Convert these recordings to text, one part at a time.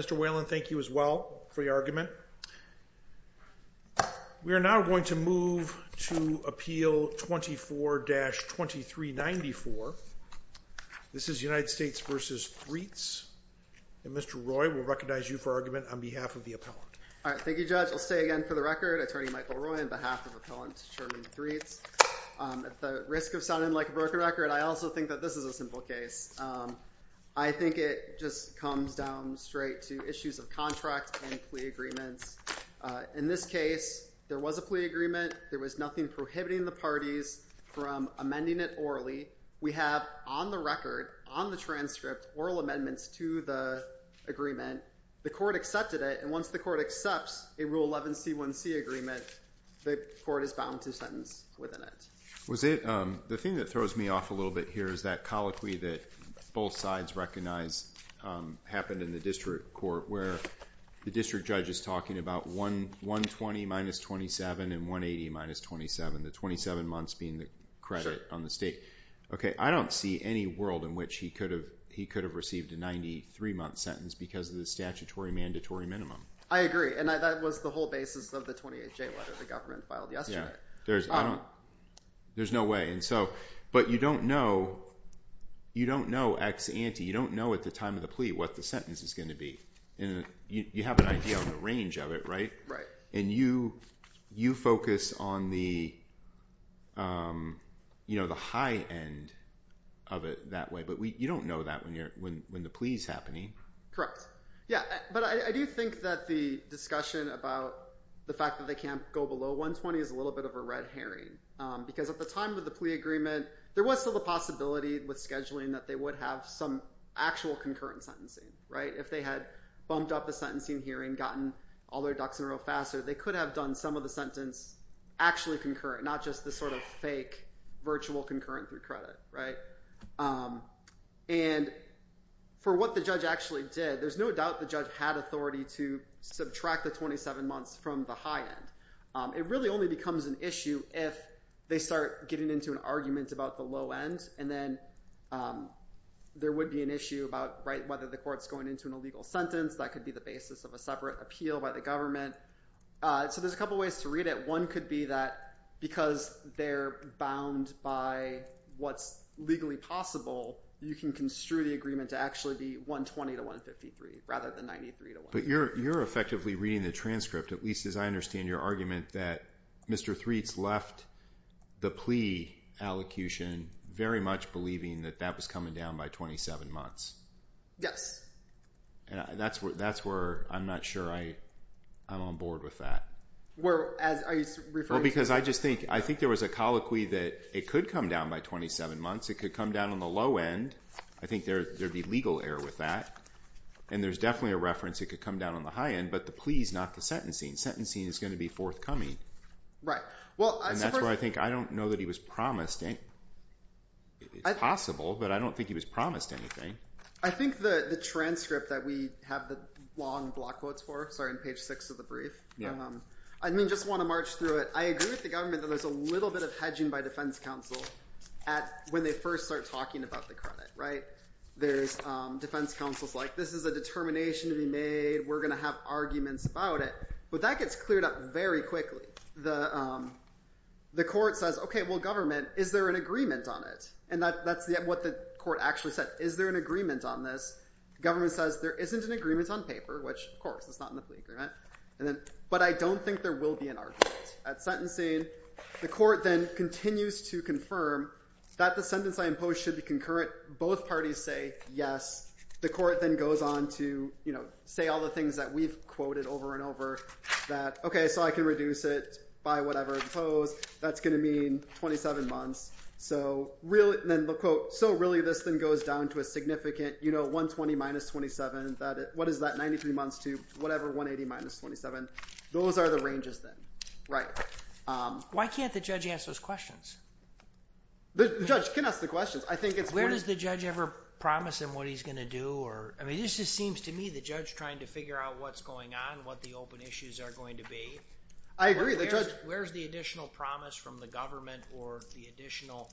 Mr. Whalen, thank you as well for your argument. We are now going to move to Appeal 24-2394. This is United States v. Threats. Mr. Roy will recognize you for argument on behalf of the appellant. All right. Thank you, Judge. I'll say again for the record, Attorney Michael Roy on behalf of Appellant Sherman Threats. At the risk of sounding like a broken record, I also think that this is a simple case. I think it just comes down straight to issues of contract and plea agreements. In this case, there was a plea agreement. There was nothing prohibiting the parties from amending it orally. We have on the record, on the transcript, oral amendments to the agreement. The court accepted it. And once the court accepts a Rule 11C1C agreement, the court is bound to sentence within it. Was it, the thing that throws me off a little bit here is that colloquy that both sides recognize happened in the district court where the district judge is talking about 120 minus 27 and 180 minus 27, the 27 months being the credit on the state. Okay. I don't see any world in which he could have received a 93-month sentence because of the statutory mandatory minimum. I agree. And that was the whole basis of the 28th J letter the government filed yesterday. There's no way. But you don't know ex ante. You don't know at the time of the plea what the sentence is going to be. You have an idea on the range of it, right? Right. And you focus on the high end of it that way. But you don't know that when the plea is happening. Correct. Yeah. But I do think that the discussion about the fact that they can't go below 120 is a little bit of a red herring because at the time of the plea agreement, there was still the possibility with scheduling that they would have some actual concurrent sentencing, right? If they had bumped up the sentencing hearing, gotten all their ducks in a row faster, they could have done some of the sentence actually concurrent, not just the sort of fake virtual concurrent through credit, right? And for what the judge actually did, there's no doubt the judge had authority to subtract the 27 months from the high end. It really only becomes an issue if they start getting into an argument about the low end and then there would be an issue about whether the court's going into an illegal sentence. That could be the basis of a separate appeal by the government. So there's a couple of ways to read it. One could be that because they're bound by what's legally possible, you can construe the agreement to actually be 120 to 153 rather than 93 to 150. But you're effectively reading the transcript, at least as I understand your argument, that Mr. Threatt's left the plea allocution very much believing that that was coming down by 27 months. Yes. And that's where I'm not sure I'm on board with that. Well, are you referring to... Well, because I just think there was a colloquy that it could come down by 27 months, it could come down on the low end. I think there'd be legal error with that. And there's definitely a reference it could come down on the high end, but the pleas, not the sentencing. Sentencing is going to be forthcoming. And that's where I think, I don't know that he was promised anything. It's possible, but I don't think he was promised anything. I think the transcript that we have the long block quotes for, sorry, on page six of the brief. I mean, just want to march through it. I agree with the government that there's a little bit of hedging by defense counsel when they first start talking about the credit, right? There's defense counsel's like, this is a determination to be made. We're going to have arguments about it. But that gets cleared up very quickly. The court says, okay, well, government, is there an agreement on it? And that's what the court actually said, is there an agreement on this? Government says there isn't an agreement on paper, which of course, it's not an agreement. But I don't think there will be an argument at sentencing. The court then continues to confirm that the sentence I impose should be concurrent. Both parties say yes. The court then goes on to, you know, say all the things that we've quoted over and over that, okay, so I can reduce it by whatever I impose. That's going to mean 27 months. So really, then the quote, so really this thing goes down to a significant, you know, 120 minus 27, what is that, 93 months to whatever, 180 minus 27. Those are the ranges then, right? Why can't the judge answer those questions? The judge can ask the questions. Where does the judge ever promise him what he's going to do? I mean, this just seems to me the judge trying to figure out what's going on, what the open issues are going to be. I agree. Where's the additional promise from the government or the additional,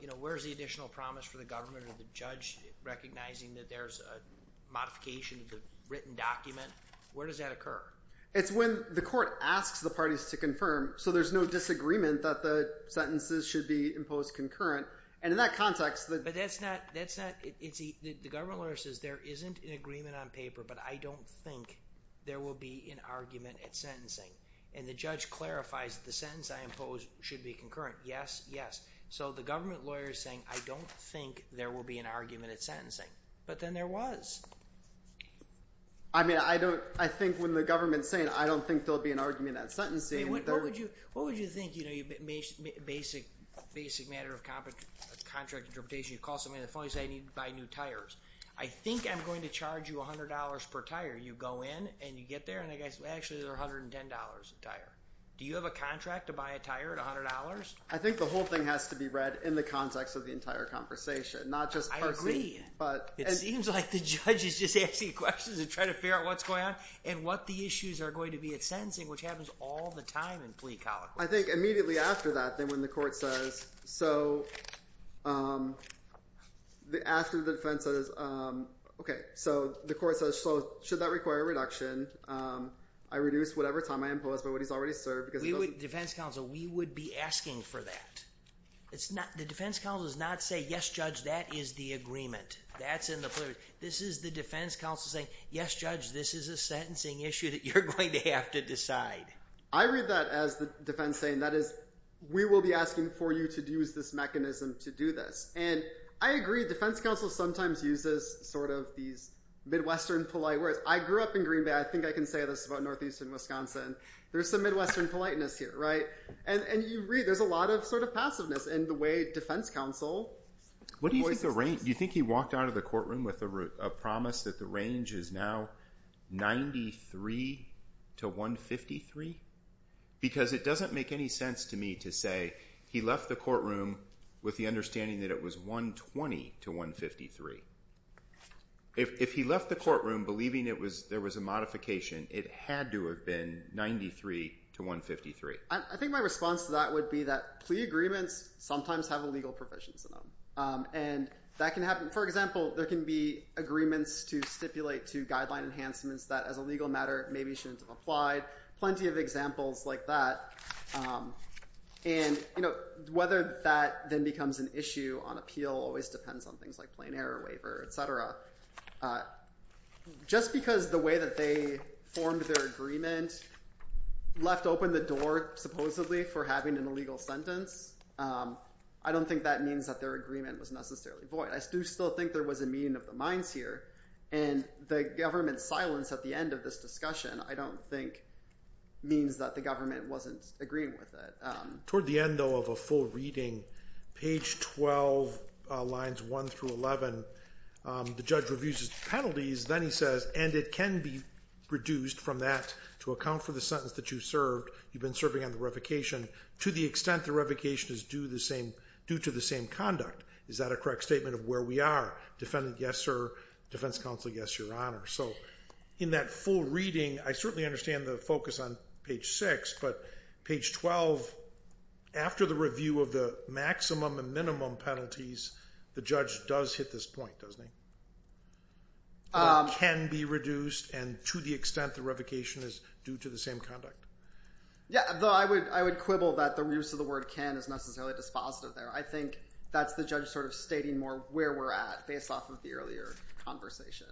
you know, where's the additional promise from the government or the judge recognizing that there's a modification of the written document? Where does that occur? It's when the court asks the parties to confirm, so there's no disagreement that the sentences should be imposed concurrent. And in that context... But that's not, that's not, the government lawyer says there isn't an agreement on paper, but I don't think there will be an argument at sentencing. And the judge clarifies the sentence I impose should be concurrent, yes, yes. So the government lawyer is saying, I don't think there will be an argument at sentencing. But then there was. I mean, I don't, I think when the government's saying, I don't think there'll be an argument at sentencing... What would you, what would you think, you know, basic, basic matter of contract interpretation, you call somebody on the phone and say, I need to buy new tires. I think I'm going to charge you $100 per tire. You go in and you get there and the guy says, well, actually they're $110 a tire. Do you have a contract to buy a tire at $100? I think the whole thing has to be read in the context of the entire conversation, not just personally. I agree. But... It seems like the judge is just asking questions and trying to figure out what's going on and what the issues are going to be at sentencing, which happens all the time in plea colloquy. I think immediately after that, then when the court says, so, after the defense says, okay, so the court says, so should that require a reduction, I reduce whatever time I impose by what he's already served because... Defense counsel, we would be asking for that. It's not, the defense counsel does not say, yes, judge, that is the agreement. That's in the plea. This is the defense counsel saying, yes, judge, this is a sentencing issue that you're going to have to decide. I read that as the defense saying, that is, we will be asking for you to use this mechanism to do this. And I agree, defense counsel sometimes uses sort of these Midwestern polite words. I grew up in Green Bay. I think I can say this about Northeastern Wisconsin. There's some Midwestern politeness here, right? And you read, there's a lot of sort of passiveness in the way defense counsel voices this. What do you think the range, do you think he walked out of the courtroom with a promise that the range is now 93 to 153? Because it doesn't make any sense to me to say he left the courtroom with the understanding that it was 120 to 153. If he left the courtroom believing it was, there was a modification, it had to have been 93 to 153. I think my response to that would be that plea agreements sometimes have illegal provisions in them. And that can happen. For example, there can be agreements to stipulate to guideline enhancements that as a legal matter maybe shouldn't have applied. Plenty of examples like that. And whether that then becomes an issue on appeal always depends on things like plain error waiver, et cetera. Just because the way that they formed their agreement left open the door supposedly for having an illegal sentence, I don't think that means that their agreement was necessarily void. I do still think there was a meeting of the minds here. And the government's silence at the end of this discussion, I don't think means that the government wasn't agreeing with it. Toward the end though of a full reading, page 12, lines 1 through 11, the judge reviews his penalties. Then he says, and it can be reduced from that to account for the sentence that you served. You've been serving on the revocation. To the extent the revocation is due to the same conduct, is that a correct statement of where we are? Defendant, yes, sir. Defense counsel, yes, your honor. So in that full reading, I certainly understand the focus on page 6. But page 12, after the review of the maximum and minimum penalties, the judge does hit this point, doesn't he? Can be reduced and to the extent the revocation is due to the same conduct. Yeah, though I would quibble that the use of the word can is necessarily dispositive there. I think that's the judge sort of stating more where we're at based off of the earlier conversation.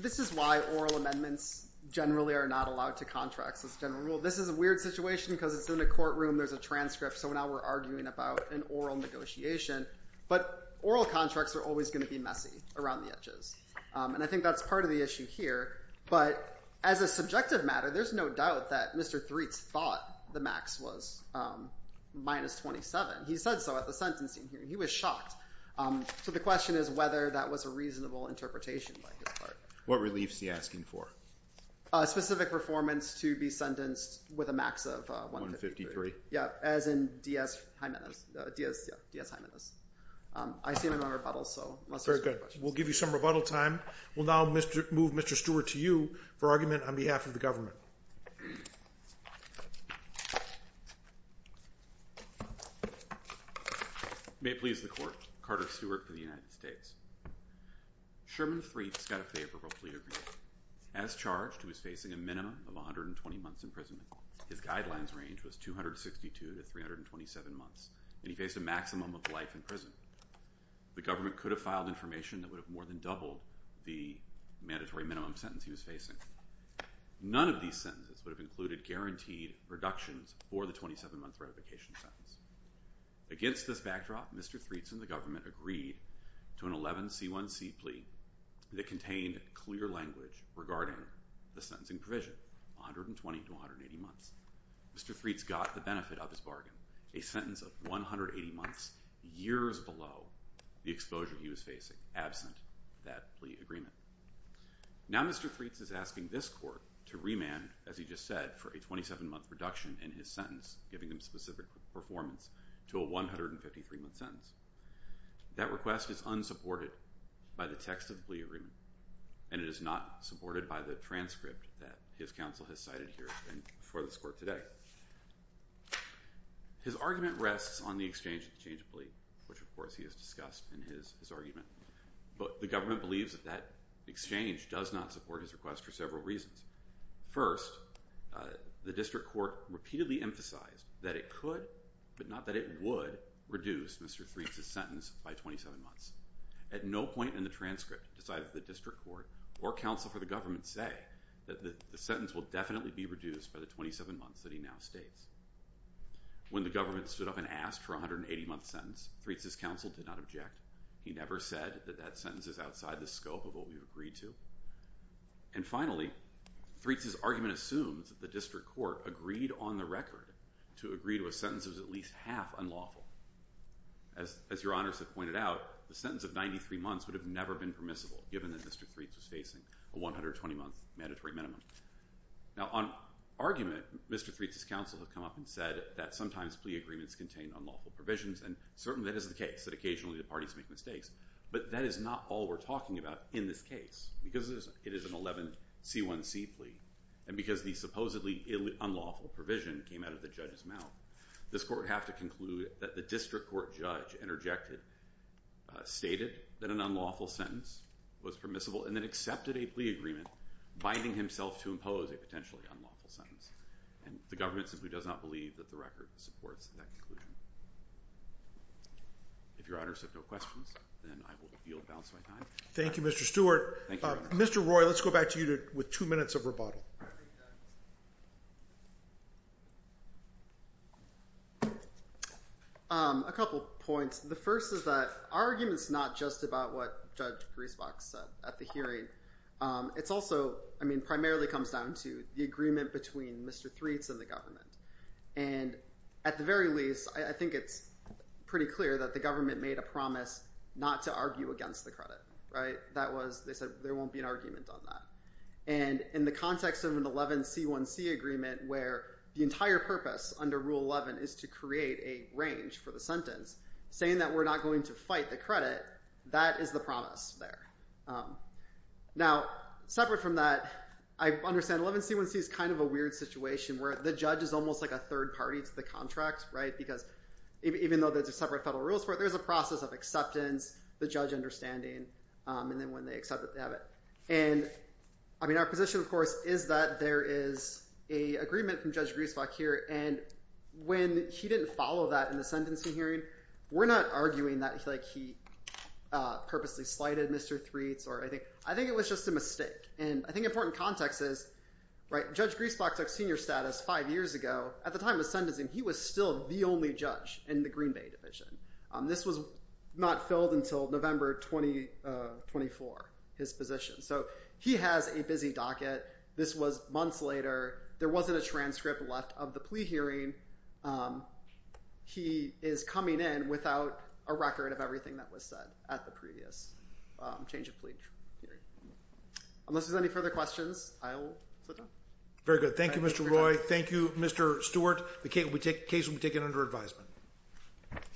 This is why oral amendments generally are not allowed to contracts. This is a weird situation because it's in a courtroom, there's a transcript, so now we're arguing about an oral negotiation. But oral contracts are always going to be messy around the edges. And I think that's part of the issue here. But as a subjective matter, there's no doubt that Mr. Threat's thought the max was minus 27. He said so at the sentencing hearing. He was shocked. So the question is whether that was a reasonable interpretation by his part. What reliefs is he asking for? Specific performance to be sentenced with a max of 153. Yeah, as in D.S. Hymanus. I see no rebuttals, so... Very good. We'll give you some rebuttal time. We'll now move Mr. Stewart to you for argument on behalf of the government. May it please the Court, Carter Stewart for the United States. Sherman Threat's got a favorable plea agreement. As charged, he was facing a minimum of 120 months in prison. His guidelines range was 262 to 327 months, and he faced a maximum of life in prison. The government could have filed information that would have more than doubled the mandatory minimum sentence he was facing. None of these sentences would have included guaranteed reductions for the 27-month ratification sentence. Against this backdrop, Mr. Threat's and the government agreed to an 11C1C plea that contained a clear language regarding the sentencing provision, 120 to 180 months. Mr. Threat's got the benefit of his bargain, a sentence of 180 months, years below the exposure he was facing, absent that plea agreement. Now Mr. Threat's is asking this Court to remand, as he just said, for a 27-month reduction in his sentence, giving him specific performance, to a 153-month sentence. That request is unsupported by the text of the plea agreement, and it is not supported by the transcript that his counsel has cited here and before this Court today. His argument rests on the exchange of the change of plea, which of course he has discussed in his argument. But the government believes that that exchange does not support his request for several reasons. First, the district court repeatedly emphasized that it could, but not that it would, reduce Mr. Threat's sentence by 27 months. At no point in the transcript does either the district court or counsel for the government say that the sentence will definitely be reduced by the 27 months that he now states. When the government stood up and asked for a 180-month sentence, Threat's' counsel did not object. He never said that that sentence is outside the scope of what we agreed to. And finally, Threat's' argument assumes that the district court agreed on the record to agree to a sentence that was at least half unlawful. As your honors have pointed out, the sentence of 93 months would have never been permissible given that Mr. Threat's was facing a 120-month mandatory minimum. Now on argument, Mr. Threat's' counsel has come up and said that sometimes plea agreements contain unlawful provisions, and certainly that is the case, that occasionally the parties make mistakes. But that is not all we're talking about in this case, because it is an 11c1c plea, and because the supposedly unlawful provision came out of the judge's mouth, this court would have to conclude that the district court judge interjected, stated that an unlawful sentence was permissible, and then accepted a plea agreement binding himself to impose a potentially unlawful sentence. And the government simply does not believe that the record supports that conclusion. If your honors have no questions, then I will yield the balance of my time. Thank you, Mr. Stewart. Thank you. Mr. Roy, let's go back to you with two minutes of rebuttal. A couple of points. The first is that our argument's not just about what Judge Griesbach said at the hearing. It's also, I mean, primarily comes down to the agreement between Mr. Threat's and the And at the very least, I think it's pretty clear that the government made a promise not to argue against the credit, right? That was, they said, there won't be an argument on that. And in the context of an 11c1c agreement where the entire purpose under Rule 11 is to create a range for the sentence, saying that we're not going to fight the credit, that is the promise there. Now, separate from that, I understand 11c1c is kind of a weird situation where the judge is almost like a third party to the contract, right? Because even though there's a separate federal rules for it, there's a process of acceptance, the judge understanding, and then when they accept it, they have it. And I mean, our position, of course, is that there is a agreement from Judge Griesbach here. And when he didn't follow that in the sentencing hearing, we're not arguing that he purposely slighted Mr. Threat's or anything. I think it was just a mistake. And I think an important context is, right, Judge Griesbach took senior status five years ago. At the time of the sentencing, he was still the only judge in the Green Bay Division. This was not filled until November 2024, his position. So he has a busy docket. This was months later. There wasn't a transcript left of the plea hearing. He is coming in without a record of everything that was said at the previous change of plea hearing. Unless there's any further questions, I will sit down. Very good. Thank you, Mr. Roy. Thank you, Mr. Stewart. The case will be taken under advisement.